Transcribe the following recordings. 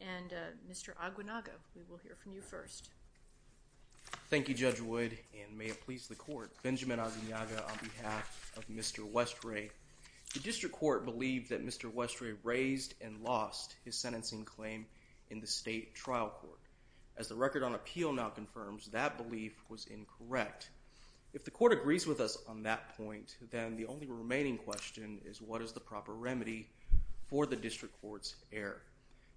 and Mr. Aguanaga. We will hear from you first. Thank you, Judge Wood, and may it please the court. Thank you, Judge Wood. I'm here to speak on behalf of Benjamin Aguanaga on behalf of Mr. Westray. The District Court believed that Mr. Westray raised and lost his sentencing claim in the State Trial Court. As the record on appeal now confirms, that belief was incorrect. If the court agrees with us on that point, then the only remaining question is what is the proper remedy for the District Court's error.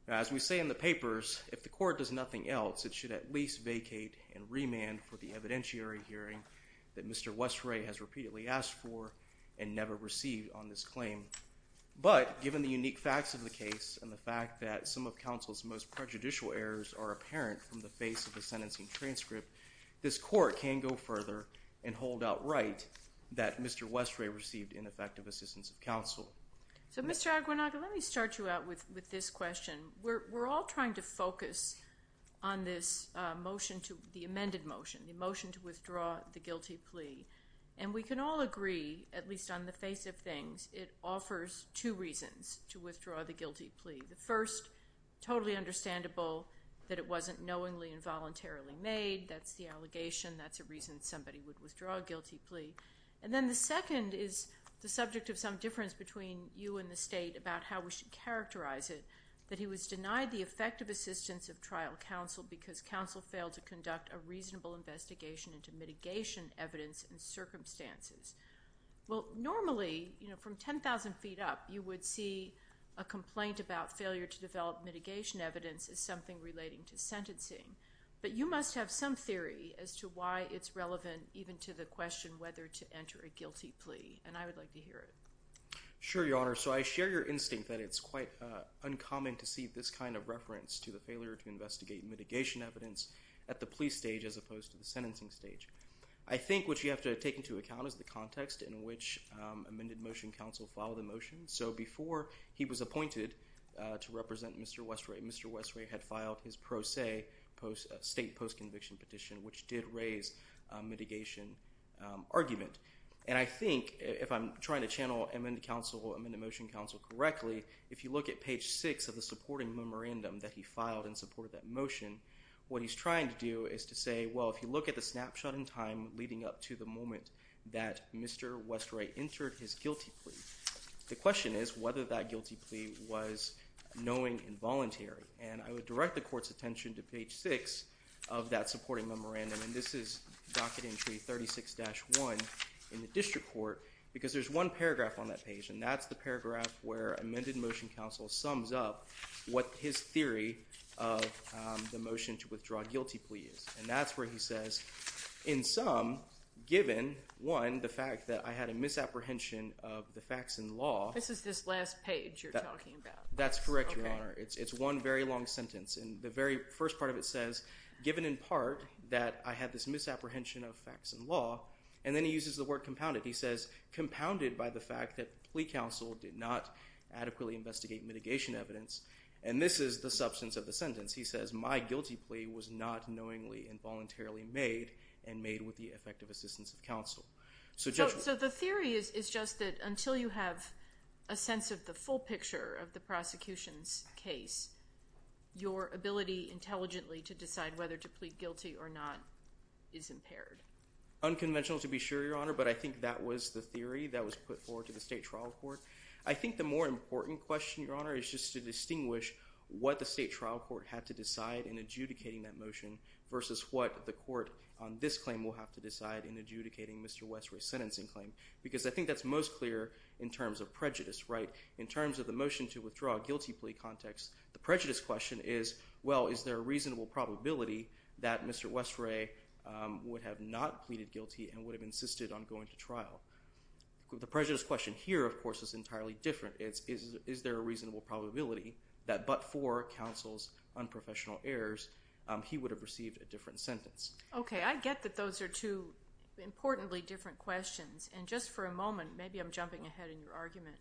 As we say in the papers, if the court does nothing else, it should at least vacate and remand for the evidentiary hearing that Mr. Westray has repeatedly asked for and never received on this claim. But, given the unique facts of the case and the fact that some of counsel's most prejudicial errors are apparent from the face of the sentencing transcript, this court can go further and hold out right that Mr. Westray received ineffective assistance of counsel. So, Mr. Aguanaga, let me start you out with this question. We're all trying to focus on this motion, the amended motion, the motion to withdraw the guilty plea. And we can all agree, at least on the face of things, it offers two reasons to withdraw the guilty plea. The first, totally understandable that it wasn't knowingly and voluntarily made. That's the allegation. That's a reason somebody would withdraw a guilty plea. And then the second is the subject of some difference between you and the State about how we should characterize it, that he was denied the effective assistance of trial counsel because counsel failed to conduct a reasonable investigation into mitigation evidence and circumstances. Well, normally, from 10,000 feet up, you would see a complaint about failure to develop mitigation evidence as something relating to sentencing. But you must have some theory as to why it's relevant even to the question whether to enter a guilty plea. And I would like to hear it. Sure, Your Honor. So, I share your instinct that it's important to investigate mitigation evidence at the plea stage as opposed to the sentencing stage. I think what you have to take into account is the context in which amended motion counsel filed the motion. So, before he was appointed to represent Mr. Westray, Mr. Westray had filed his pro se state post-conviction petition, which did raise a mitigation argument. And I think, if I'm trying to channel amended motion counsel correctly, if you look at page six of the supporting memorandum that he filed in support of that motion, what he's trying to do is to say, well, if you look at the snapshot in time leading up to the moment that Mr. Westray entered his guilty plea, the question is whether that guilty plea was knowing and voluntary. And I would direct the court's attention to page six of that supporting memorandum. And this is docket entry 36-1 in the district court because there's one paragraph on that page, and that's the paragraph where amended motion counsel sums up what his theory of the motion to withdraw guilty plea is. And that's where he says, in sum, given, one, the fact that I had a misapprehension of the facts and law. This is this last page you're talking about. That's correct, Your Honor. It's one very long sentence. And the very first part of it says, given in part that I had this misapprehension of facts and law. And then he uses the word compounded by the fact that plea counsel did not adequately investigate mitigation evidence. And this is the substance of the sentence. He says, my guilty plea was not knowingly and voluntarily made and made with the effective assistance of counsel. So the theory is just that until you have a sense of the full picture of the prosecution's case, your ability intelligently to decide whether to plead guilty or not is impaired. Unconventional to be sure, Your Honor, but I think that was the theory that was put forward to the state trial court. I think the more important question, Your Honor, is just to distinguish what the state trial court had to decide in adjudicating that motion versus what the court on this claim will have to decide in adjudicating Mr. Westray's sentencing claim. Because I think that's most clear in terms of prejudice, right? In terms of the motion to withdraw guilty plea context, the prejudice question is, well, is there a reasonable probability that Mr. Westray would have not pleaded guilty and would have insisted on going to trial? The prejudice question here, of course, is entirely different. It's, is there a reasonable probability that but for counsel's unprofessional errors, he would have received a different sentence? Okay. I get that those are two importantly different questions. And just for a moment, maybe I'm jumping ahead in your argument.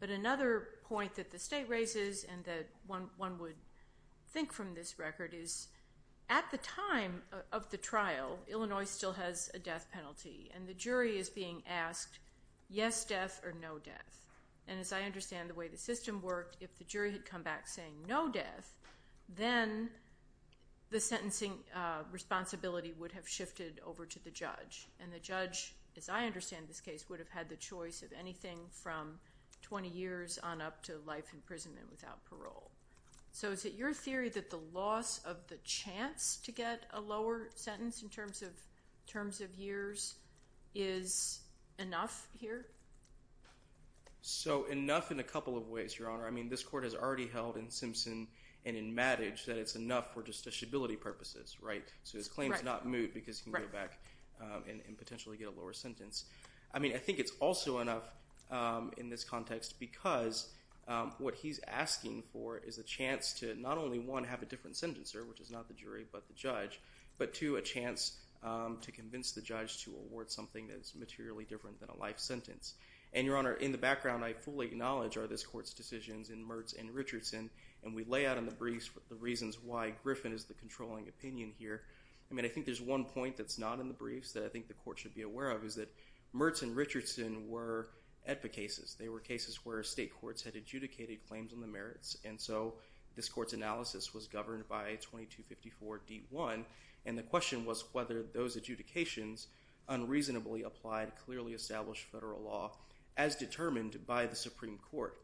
But another point that the state raises and that one, one would think from this record is at the time of the trial, Illinois still has a death penalty. And the jury is being asked, yes, death or no death? And as I understand the way the system worked, if the jury had come back saying no death, then the sentencing responsibility would have shifted over to the judge. And the judge, as I understand this case, would have had the choice of anything from 20 years on up to life imprisonment without parole. So is it your theory that the loss of the chance to get a lower sentence in terms of, terms of years is enough here? So enough in a couple of ways, Your Honor. I mean, this court has already held in Simpson and in Maddage that it's enough for justiciability purposes, right? So his claim is not moved because he can go back and potentially get a lower sentence. I mean, I think it's also enough in this context because what he's asking for is a chance to not only, one, have a different sentencer, which is not the jury, but the judge, but two, a chance to convince the judge to award something that is materially different than a life sentence. And Your Honor, in the background, I fully acknowledge are this court's decisions in Mertz and Richardson, and we lay out in the briefs the reasons why Griffin is the controlling opinion here. I mean, I think there's one point that's not in the briefs that I think the court should be aware of is that Mertz and Richardson were EDPA cases. They were cases where state courts had adjudicated claims on the merits, and so this court's analysis was governed by 2254 D1, and the question was whether those adjudications unreasonably applied clearly established federal law as determined by the Supreme Court.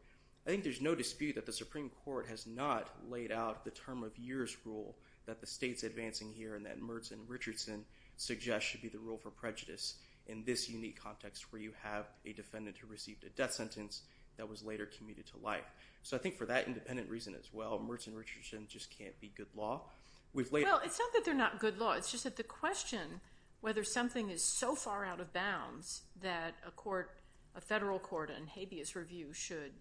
I think there's no dispute that the Supreme Court has not laid out the term of years rule that the state's advancing here and that Mertz and Richardson suggest should be the rule for prejudice in this unique context where you have a defendant who received a death sentence that was later commuted to life. So I think for that independent reason as well, Mertz and Richardson just can't be good law. We've laid out- Well, it's not that they're not good law. It's just that the question whether something is so far out of bounds that a court, a federal court in habeas review should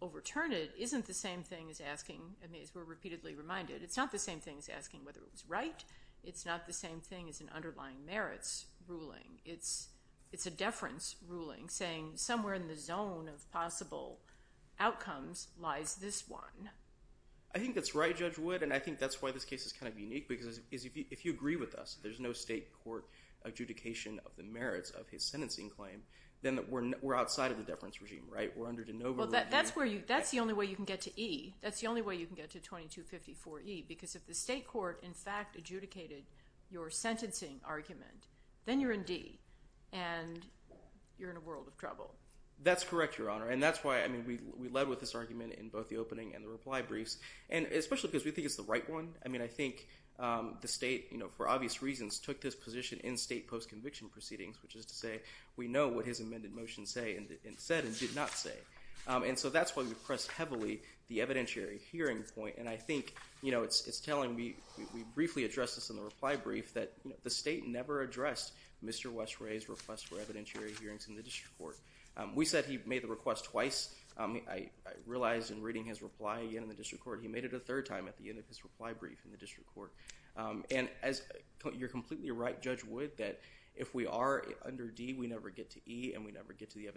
overturn it isn't the same thing as asking, I mean, as we're repeatedly reminded, it's not the same thing as asking whether it was right. It's not the same thing as an underlying merits ruling. It's a deference ruling saying somewhere in the zone of possible outcomes lies this one. I think that's right, Judge Wood, and I think that's why this case is kind of unique because if you agree with us, there's no state court adjudication of the merits of his sentencing claim, then we're outside of the deference regime, right? We're under de novo review. Well, that's the only way you can get to E. That's the only way you can get to 2254E because if the state court, in fact, adjudicated your sentencing argument, then you're in D and you're in a world of trouble. That's correct, Your Honor, and that's why, I mean, we led with this argument in both the opening and the reply briefs, and especially because we think it's the right one. I mean, I think the state, you know, for obvious reasons took this position in state post-conviction proceedings, which is to say we know what his amended motion said and did not say, and so that's why we pressed heavily the evidentiary hearing point, and I think, you know, it's telling me, we briefly addressed this in the reply brief, that the state never addressed Mr. Westray's request for evidentiary hearings in the district court. We said he made the request twice. I realized in reading his reply in the district court, he made it a third time at the end of his reply brief in the district court, and you're completely right, Judge Wood, that if we are under D, we never get to E, and we never get to the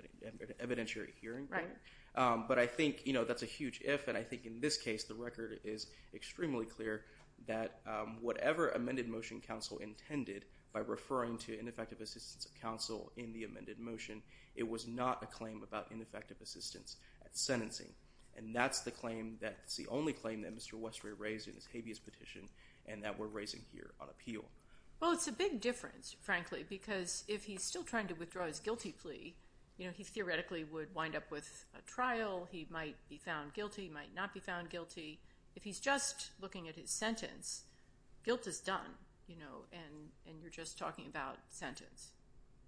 evidentiary hearing point, but I think, you know, that's a huge if, and I think in this case, the record is extremely clear that whatever amended motion counsel intended by referring to ineffective assistance of counsel in the amended motion, it was not a claim about ineffective assistance at sentencing, and that's the claim, that's the only claim that Mr. Westray raised in his habeas petition and that we're raising here on appeal. Well, it's a big difference, frankly, because if he's still trying to withdraw his guilty plea, you know, he theoretically would wind up with a trial, he might be found guilty, he might not be found guilty. If he's just looking at his sentence, guilt is done, you know, and you're just talking about sentence.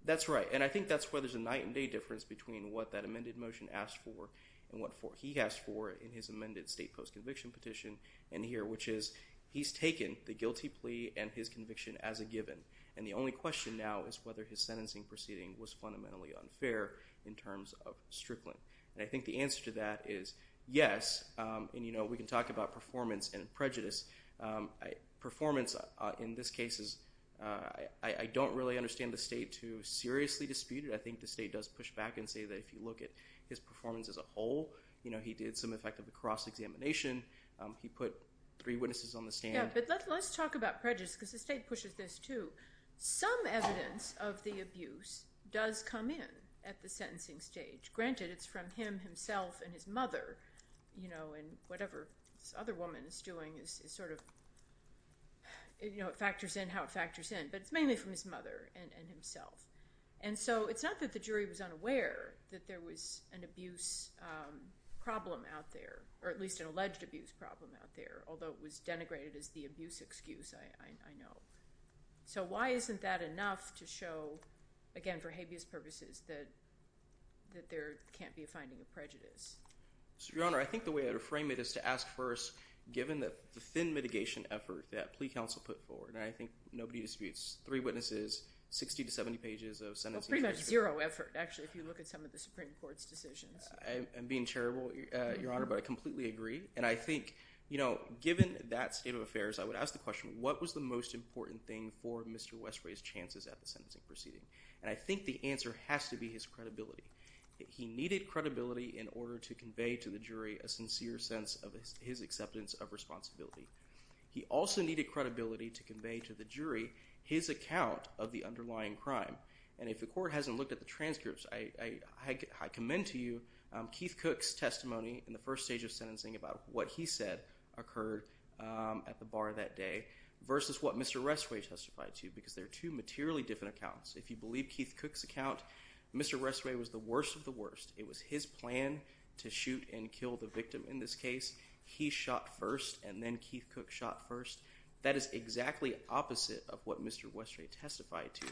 That's right, and I think that's where there's a night and day difference between what that amended motion asked for and what he asked for in his amended state post-conviction petition in here, which is, he's taken the guilty plea and his conviction as a given, and the only question now is whether his sentencing proceeding was fundamentally unfair in terms of Strickland. And I think the answer to that is yes, and you know, we can talk about performance and prejudice, performance in this case is, I don't really understand the state to seriously dispute it, I think the state does push back and say that if you look at his performance as a whole, you know, he did some effective cross-examination, he put three witnesses on the stand. Yeah, but let's talk about prejudice, because the state pushes this too. Some evidence of the abuse does come in at the sentencing stage. Granted, it's from him himself and his mother, you know, and whatever this other woman is doing is sort of, you know, it factors in how it factors in, but it's mainly from his mother and himself. And so it's not that the jury was unaware that there was an abuse problem out there, or at least an alleged abuse problem out there, although it was denigrated as the abuse excuse, I know. So why isn't that enough to show, again, for habeas purposes, that there can't be a finding of prejudice? Your Honor, I think the way I would frame it is to ask first, given the thin mitigation effort that plea counsel put forward, and I think nobody disputes three witnesses, 60 to 70 pages of sentencing. Well, pretty much zero effort, actually, if you look at some of the Supreme Court's decisions. I'm being terrible, Your Honor, but I completely agree. And I think, you know, given that state of affairs, I would ask the question, what was the most important thing for Mr. Westway's chances at the sentencing proceeding? And I think the answer has to be his credibility. He needed credibility in order to convey to the jury a sincere sense of his acceptance of responsibility. He also needed credibility to convey to the jury his account of the underlying crime. And if the court hasn't looked at the transcripts, I commend to you Keith Cook's testimony in the first stage of sentencing about what he said occurred at the bar that day versus what Mr. Westway testified to, because they're two materially different accounts. If you believe Keith Cook's account, Mr. Westway was the worst of the worst. It was his plan to shoot and kill the victim in this case. He shot first, and then Keith Cook shot first. That is exactly opposite of what Mr. Westway testified to.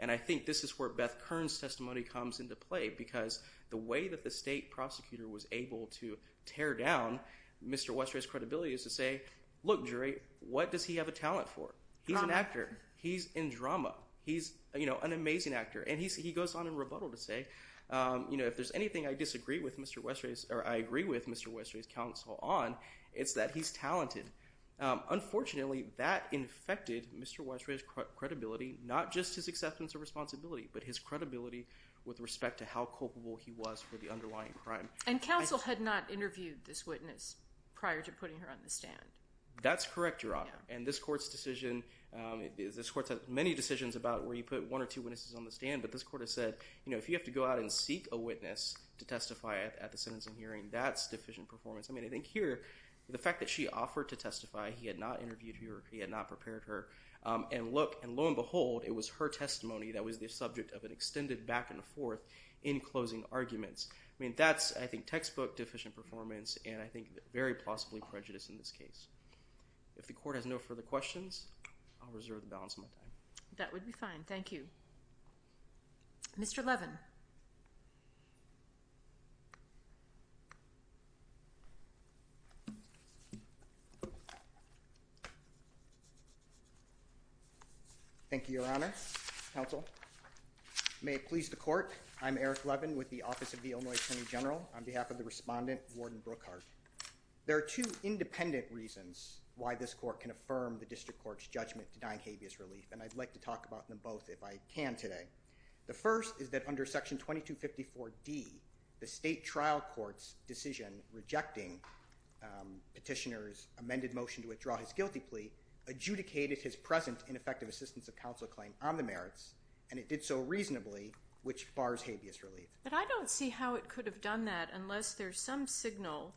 And I think this is where Beth Kern's testimony comes into play, because the way that the state prosecutor was able to tear down Mr. Westway's credibility is to say, look, jury, what does he have a talent for? He's an actor. He's in drama. He's, you know, an amazing actor. And he goes on in rebuttal to say, you know, if there's anything I disagree with Mr. Westway's, or I agree with Mr. Westway's counsel on, it's that he's talented. Unfortunately, that infected Mr. Westway's credibility, not just his acceptance of responsibility, but his credibility with respect to how culpable he was for the underlying crime. And counsel had not interviewed this witness prior to putting her on the stand. That's correct, Your Honor. And this court's decision, this court's had many decisions about where you put one or two witnesses on the stand, but this court has said, you know, go out and seek a witness to testify at the sentencing hearing. That's deficient performance. I mean, I think here, the fact that she offered to testify, he had not interviewed her, he had not prepared her, and look, and lo and behold, it was her testimony that was the subject of an extended back and forth in closing arguments. I mean, that's, I think, textbook deficient performance, and I think very plausibly prejudice in this case. If the court has no further questions, I'll reserve the balance of my time. That would be fine. Thank you. Mr. Levin. Thank you, Your Honor, counsel. May it please the court, I'm Eric Levin with the Office of the Illinois Attorney General. On behalf of the respondent, Warden Brookhart, there are two independent reasons why this court can affirm the district court's judgment denying habeas relief, and I'd like to talk about them both if I can today. The first is that under Section 2254D, the state trial court's decision rejecting petitioner's amended motion to withdraw his guilty plea adjudicated his present ineffective assistance of counsel claim on the merits, and it did so reasonably, which bars habeas relief. But I don't see how it could have done that unless there's some signal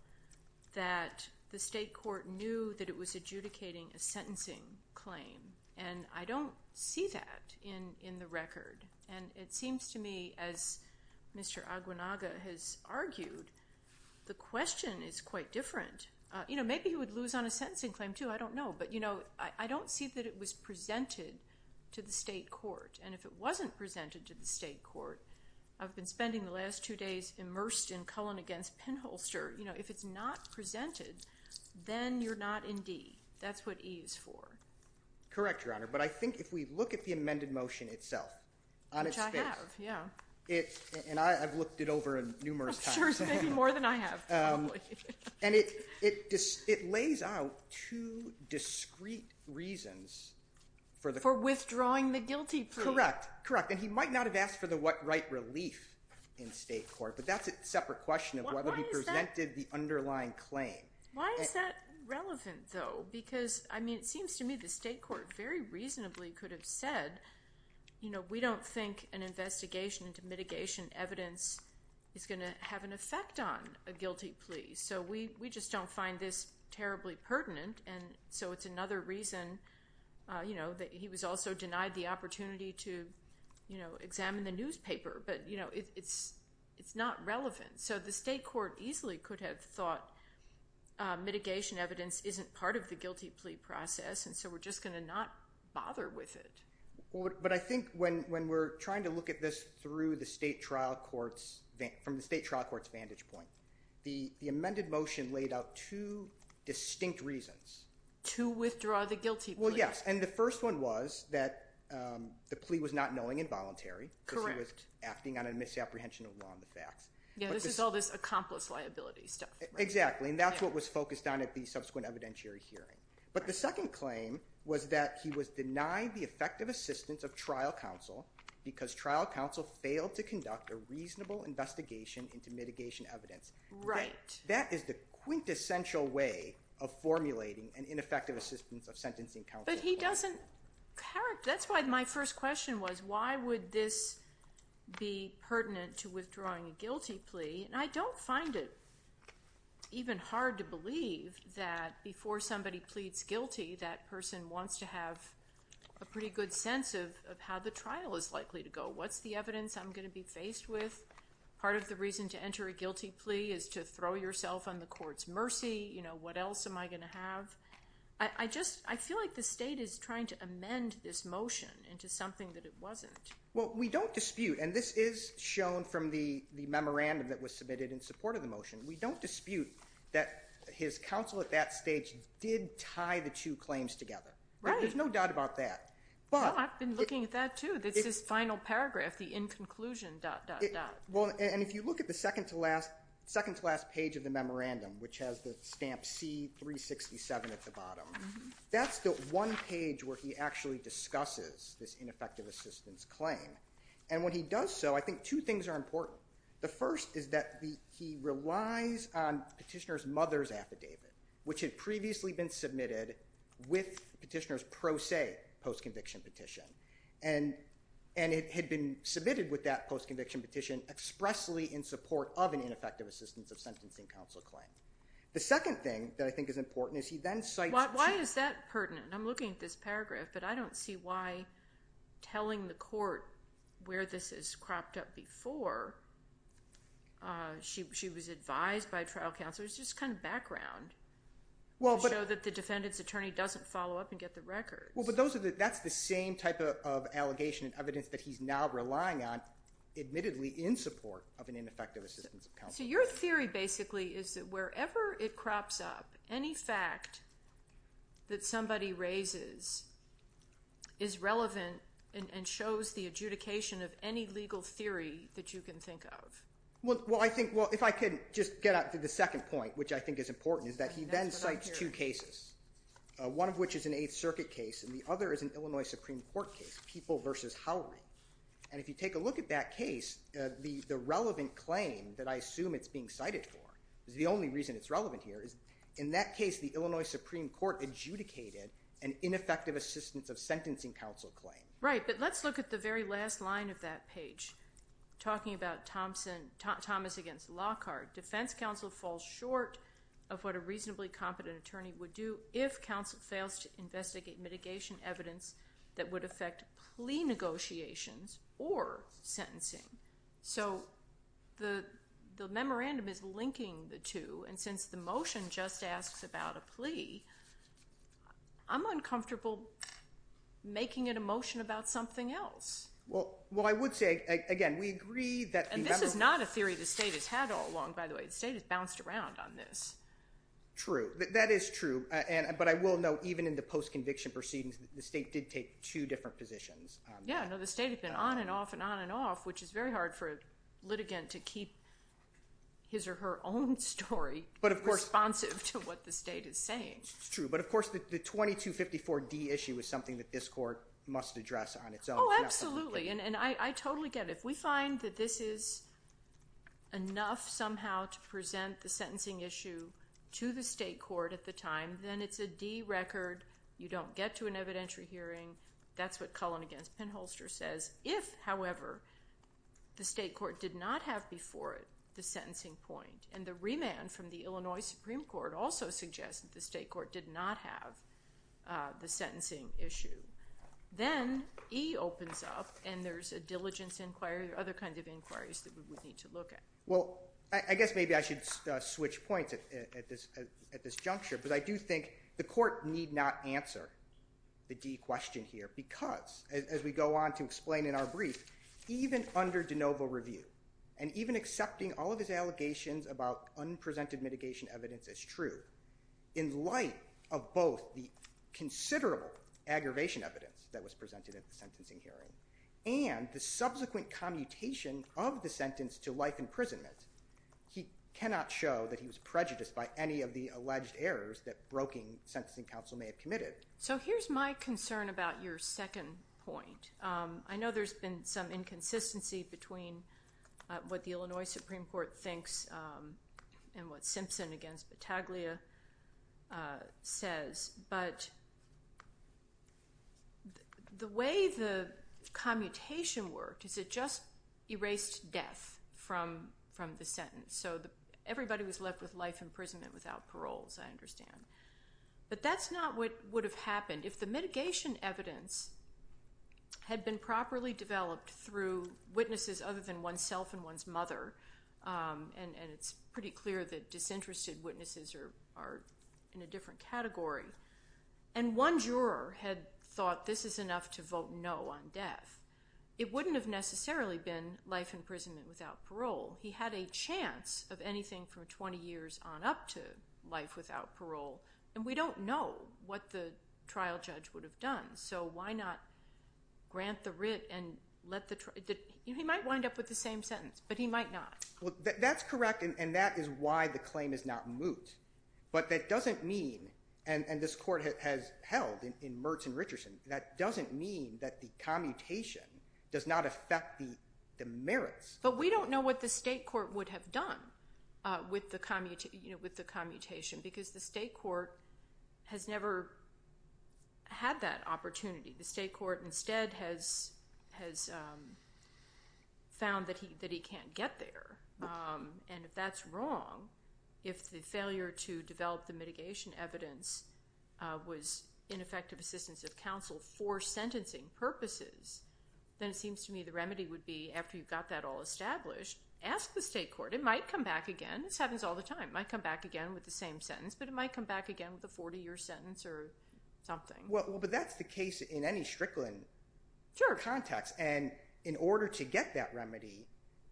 that the state court knew that it was adjudicating a sentencing claim, and I don't see that in the record. And it seems to me, as Mr. Aguanaga has argued, the question is quite different. You know, maybe he would lose on a sentencing claim, too. I don't know. But, you know, I don't see that it was presented to the state court, and if it wasn't presented to the state court, I've been spending the last two days immersed in Cullen against Penholster. You know, if it's not presented, then you're not in D. That's what E is for. Correct, Your Honor, but I think if we look at the amended motion itself, on its face, and I've looked it over numerous times. I'm sure it's been more than I have, probably. And it lays out two discreet reasons for withdrawing the guilty plea. Correct, correct, and he might not have asked for the right relief in state court, but that's a separate question of whether he presented the underlying claim. Why is that relevant, though? Because, I mean, it seems to me the state court very reasonably could have said, you know, we don't think an investigation into mitigation evidence is going to have an effect on a guilty plea. So we just don't find this terribly pertinent, and so it's another reason, you know, that he was also denied the opportunity to, you know, it's not relevant. So the state court easily could have thought mitigation evidence isn't part of the guilty plea process, and so we're just going to not bother with it. But I think when we're trying to look at this through the state trial court's vantage point, the amended motion laid out two distinct reasons. To withdraw the guilty plea. Well, yes, and the first one was that the plea was not knowing and voluntary. Correct. And that he was acting on a misapprehension of law and the facts. Yeah, this is all this accomplice liability stuff. Exactly, and that's what was focused on at the subsequent evidentiary hearing. But the second claim was that he was denied the effective assistance of trial counsel because trial counsel failed to conduct a reasonable investigation into mitigation evidence. Right. That is the quintessential way of formulating an ineffective assistance of sentencing counsel. But he doesn't, that's why my first question was why would this be pertinent to withdrawing a guilty plea? And I don't find it even hard to believe that before somebody pleads guilty that person wants to have a pretty good sense of how the trial is likely to go. What's the evidence I'm going to be faced with? Part of the reason to enter a guilty plea is to throw yourself on the court's mercy. You know, what else am I going to have? I just, I feel like the state is trying to amend this motion into something that it wasn't. Well, we don't dispute, and this is shown from the memorandum that was submitted in support of the motion, we don't dispute that his counsel at that stage did tie the two claims together. Right. There's no doubt about that. Well, I've been looking at that too. It's his final paragraph, the in conclusion dot dot dot. Well, and if you look at the second to last page of the memorandum, which has the stamp C-367 at the bottom, that's the one page where he actually discusses this ineffective assistance claim. And when he does so, I think two things are important. The first is that he relies on Petitioner's mother's affidavit, which had previously been submitted with Petitioner's pro se post-conviction petition. And it had been submitted with that post-conviction petition expressly in support of an ineffective assistance of sentencing counsel claim. The second thing that I think is important is he then cites... Why is that pertinent? I'm looking at this paragraph, but I don't see why telling the court where this has cropped up before she was advised by trial counsel. It's just kind of background to show that the defendant's attorney doesn't follow up and get the records. Well, but that's the same type of allegation and evidence that he's now relying on, admittedly in support of an ineffective assistance of counsel. So your theory basically is that wherever it crops up, any fact that somebody raises is relevant and shows the adjudication of any legal theory that you can think of. Well, I think, well, if I could just get out to the second point, which I think is important, is that he then cites two cases, one of which is an Eighth Circuit case and the other is an Illinois Supreme Court case, People v. Howrey. And if you take a look at that case, the relevant claim that I assume it's being cited for is the only reason it's relevant here is in that case, the Illinois Supreme Court adjudicated an ineffective assistance of sentencing counsel claim. Right, but let's look at the very last line of that page, talking about Thomas v. Lockhart. Defense counsel falls short of what a reasonably competent attorney would do if counsel fails to investigate mitigation evidence that would affect plea negotiations or sentencing. So the memorandum is linking the two, and since the motion just asks about a plea, I'm uncomfortable making it a motion about something else. Well, I would say, again, we agree that the memo— And this is not a theory the state has had all along, by the way. The state has bounced around on this. True. That is true, but I will note, even in the post-conviction proceedings, the state did take two different positions on that. Yeah, no, the state had been on and off and on and off, which is very hard for a litigant to keep his or her own story responsive to what the state is saying. It's true, but of course, the 2254D issue is something that this court must address on its own. Oh, absolutely, and I totally get it. If we find that this is enough somehow to present the sentencing issue to the state court at the time, then it's a D record. You don't get to an evidentiary hearing. That's what Cullen against Penholster says. If, however, the state court did not have before it the sentencing point, and the remand from the Illinois Supreme Court also suggests that the state court did not have the sentencing issue, then E opens up, and there's a diligence inquiry or other kinds of inquiries that we would need to look at. Well, I guess maybe I should switch points at this juncture, but I do think the court need not answer the D question here because, as we go on to explain in our brief, even under de novo review, and even accepting all of his allegations about unpresented mitigation evidence as true, in light of both the considerable aggravation evidence that was presented at the time, and the fact that he was in public imprisonment, he cannot show that he was prejudiced by any of the alleged errors that broking sentencing counsel may have committed. So here's my concern about your second point. I know there's been some inconsistency between what the Illinois Supreme Court thinks and what Simpson against Battaglia says, but the way the commutation worked is it just erased death from the sentence. So everybody was left with life imprisonment without parole, as I understand. But that's not what would have happened. If the mitigation evidence had been properly developed through witnesses other than oneself and one's mother, and it's pretty clear that disinterested witnesses are in a different category, and one juror had thought this is enough to vote no on death, it wouldn't have necessarily been life imprisonment without parole. He had a chance of anything from 20 years on up to life without parole, and we don't know what the trial judge would have done. So why not grant the writ and let the trial judge? He might wind up with the same sentence, but he might not. That's correct, and that is why the claim is not moot. But that doesn't mean, and this court has held in Mertz and Richardson, that doesn't mean that the commutation does not affect the merits. But we don't know what the state court would have done with the commutation, because the state court has never had that opportunity. The state court instead has found that he can't get there, and if that's wrong, if the failure to develop the mitigation evidence was ineffective assistance of counsel for sentencing purposes, then it seems to me the remedy would be, after you've got that all established, ask the state court. It might come back again. This happens all the time. It might come back again with the same sentence, but it might come back again with a 40-year sentence or something. But that's the case in any Strickland context, and in order to get that remedy,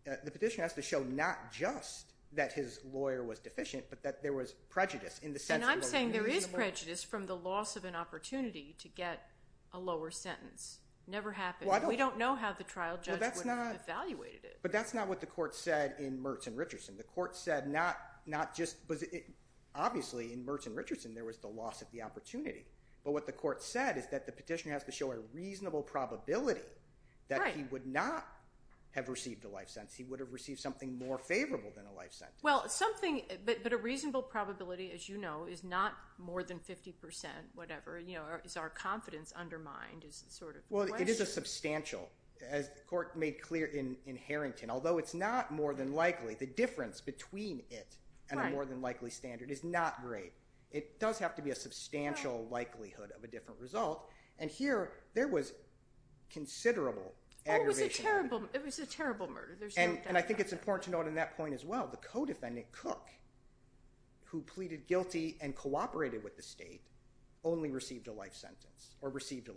the petitioner has to show not just that his lawyer was deficient, but that there was prejudice in the sense that there was a reasonable— And I'm saying there is prejudice from the loss of an opportunity to get a lower sentence. Never happened. We don't know how the trial judge would have evaluated it. But that's not what the court said in Mertz and Richardson. The court said not just—obviously in Mertz and Richardson, there was the loss of the opportunity, but what the court said is that the petitioner has to show a reasonable probability that he would not have received a life sentence. He would have received something more favorable than a life sentence. Well, something—but a reasonable probability, as you know, is not more than 50 percent, whatever. You know, is our confidence undermined is sort of the question. Well, it is a substantial, as the court made clear in Harrington. Although it's not more than likely, the difference between it and a more than likely standard is not great. It does have to be a substantial likelihood of a different result. And here, there was considerable aggravation. Oh, it was a terrible—it was a terrible murder. There's no doubt about that. And I think it's important to note in that point as well, the co-defendant, Cook, who pleaded guilty and cooperated with the state, only received a life sentence, or received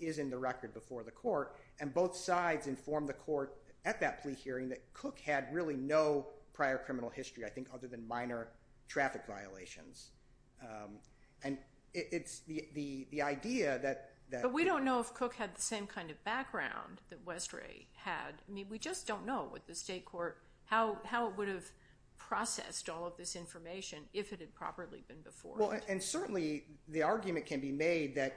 is in the record before the court. And both sides informed the court at that plea hearing that Cook had really no prior criminal history, I think, other than minor traffic violations. And it's the idea that— But we don't know if Cook had the same kind of background that Westray had. I mean, we just don't know with the state court how it would have processed all of this information if it had properly been before it. And certainly, the argument can be made that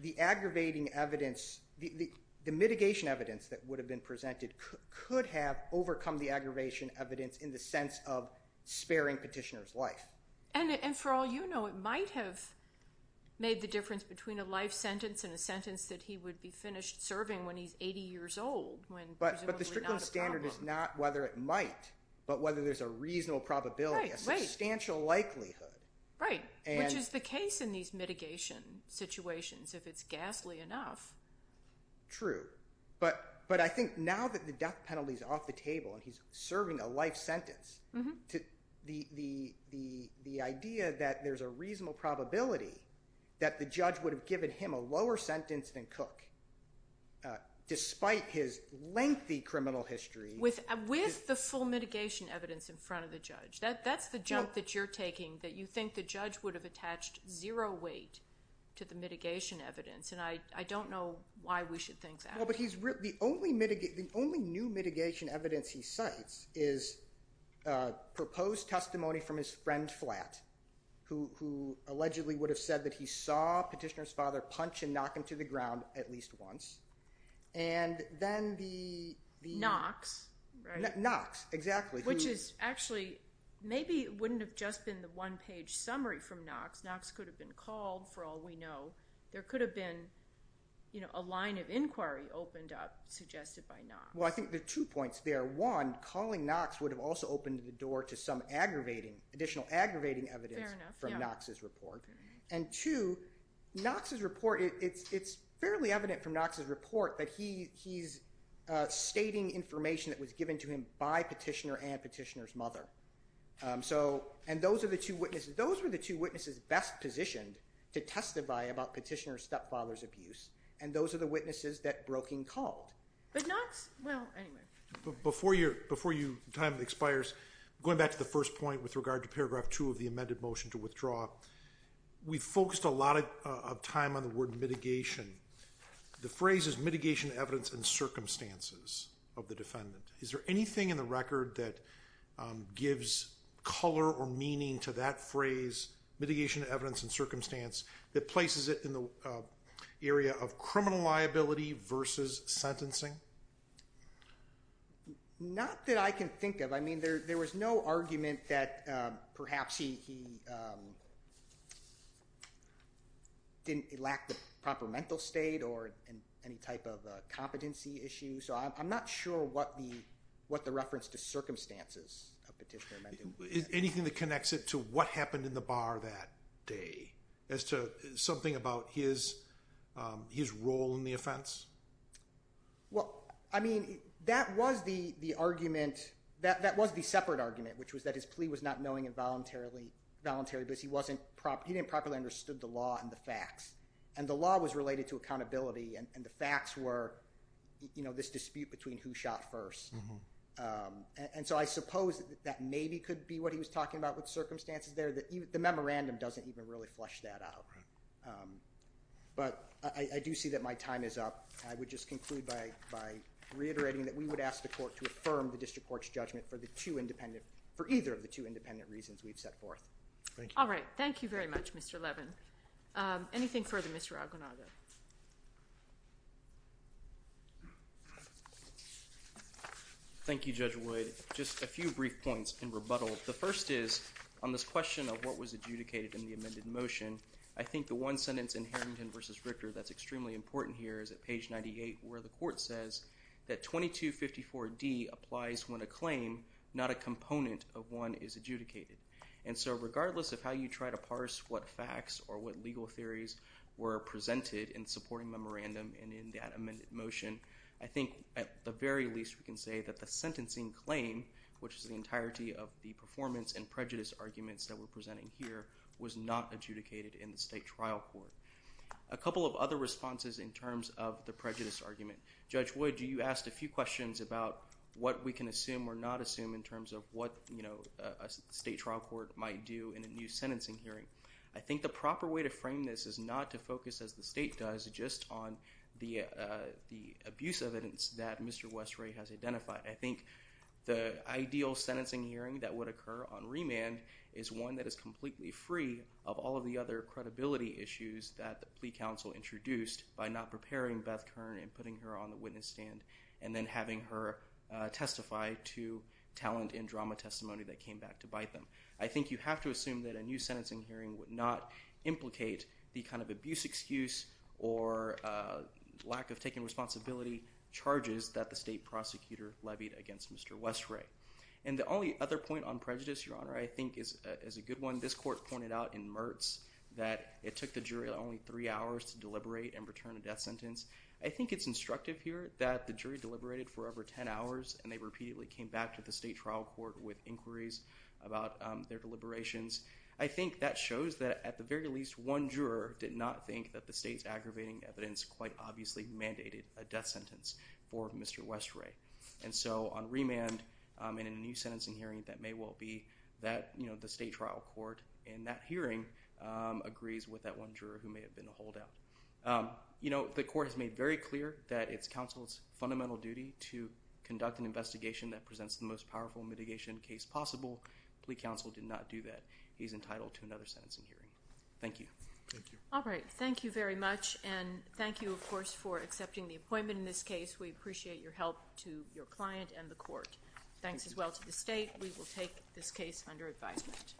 the aggravating evidence, the mitigation evidence that would have been presented, could have overcome the aggravation evidence in the sense of sparing Petitioner's life. And for all you know, it might have made the difference between a life sentence and a sentence that he would be finished serving when he's 80 years old, when presumably not a problem. But the Strickland Standard is not whether it might, but whether there's a reasonable probability, a substantial likelihood. Right. Which is the case in these mitigation situations, if it's ghastly enough. True. But I think now that the death penalty's off the table and he's serving a life sentence, the idea that there's a reasonable probability that the judge would have given him a lower sentence than Cook, despite his lengthy criminal history— With the full mitigation evidence in front of the judge. That's the jump that you're taking, that you think the judge would have attached zero weight to the mitigation evidence. And I don't know why we should think that. Well, but the only new mitigation evidence he cites is proposed testimony from his friend Flatt, who allegedly would have said that he saw Petitioner's father punch and knock him to the ground at least once. And then the— Right. Knox, exactly. Which is actually, maybe it wouldn't have just been the one-page summary from Knox. Knox could have been called, for all we know. There could have been a line of inquiry opened up, suggested by Knox. Well, I think there are two points there. One, calling Knox would have also opened the door to some additional aggravating evidence from Knox's report. And two, Knox's report, it's fairly evident from Knox's report that he's stating information that was given to him by Petitioner and Petitioner's mother. So, and those are the two witnesses. Those were the two witnesses best positioned to testify about Petitioner's stepfather's abuse. And those are the witnesses that Broeking called. But Knox, well, anyway. Before your time expires, going back to the first point with regard to paragraph two of the amended motion to withdraw, we focused a lot of time on the word mitigation. The word defendant. Is there anything in the record that gives color or meaning to that phrase, mitigation of evidence and circumstance, that places it in the area of criminal liability versus sentencing? Not that I can think of. I mean, there was no argument that perhaps he didn't lack the proper mental state or any type of competency issue. So I'm not sure what the reference to circumstances of Petitioner meant. Anything that connects it to what happened in the bar that day, as to something about his role in the offense? Well, I mean, that was the argument, that was the separate argument, which was that his plea was not knowing and voluntary, but he didn't properly understand the law and the facts. And the law was related to accountability and the facts were, you know, this dispute between who shot first. And so I suppose that maybe could be what he was talking about with circumstances there, that the memorandum doesn't even really flesh that out. But I do see that my time is up. I would just conclude by reiterating that we would ask the court to affirm the District Court's judgment for the two independent, for either of the two independent reasons we've set forth. Thank you. All right. Thank you very much, Mr. Levin. Anything further, Mr. Aguinaldo? Thank you, Judge Wood. Just a few brief points in rebuttal. The first is, on this question of what was adjudicated in the amended motion, I think the one sentence in Harrington v. Richter that's extremely important here is at page 98, where the court says that 2254D applies when a claim, not a component of one, is adjudicated. And so regardless of how you try to parse what facts or what legal theories were presented in supporting memorandum and in that amended motion, I think at the very least we can say that the sentencing claim, which is the entirety of the performance and prejudice arguments that we're presenting here, was not adjudicated in the state trial court. A couple of other responses in terms of the prejudice argument. Judge Wood, you asked a few questions about what we can assume or not assume in terms of what a state trial court might do in a new sentencing hearing. I think the proper way to frame this is not to focus, as the state does, just on the abuse evidence that Mr. Westray has identified. I think the ideal sentencing hearing that would occur on remand is one that is completely free of all of the other credibility issues that the plea counsel introduced by not preparing Beth Kern and putting her on the witness stand and then having her testify to talent in drama testimony that came back to bite them. I think you have to assume that a new sentencing hearing would not implicate the kind of abuse excuse or lack of taking responsibility charges that the state prosecutor levied against Mr. Westray. And the only other point on prejudice, Your Honor, I think is a good one. This court pointed out in Mertz that it took the jury only three hours to deliberate and return a death sentence. I think it's instructive here that the jury deliberated for over ten hours and they repeatedly came back to the state trial court with inquiries about their deliberations. I think that shows that at the very least one juror did not think that the state's aggravating evidence quite obviously mandated a death sentence for Mr. Westray. And so on remand in a new sentencing hearing that may agrees with that one juror who may have been a holdout. You know the court has made very clear that it's counsel's fundamental duty to conduct an investigation that presents the most powerful mitigation case possible. Plea counsel did not do that. He's entitled to another sentencing hearing. Thank you. All right. Thank you very much and thank you of course for accepting the appointment in this case. We appreciate your help to your client and the court. Thanks as well to the state. We will take this case under advisement.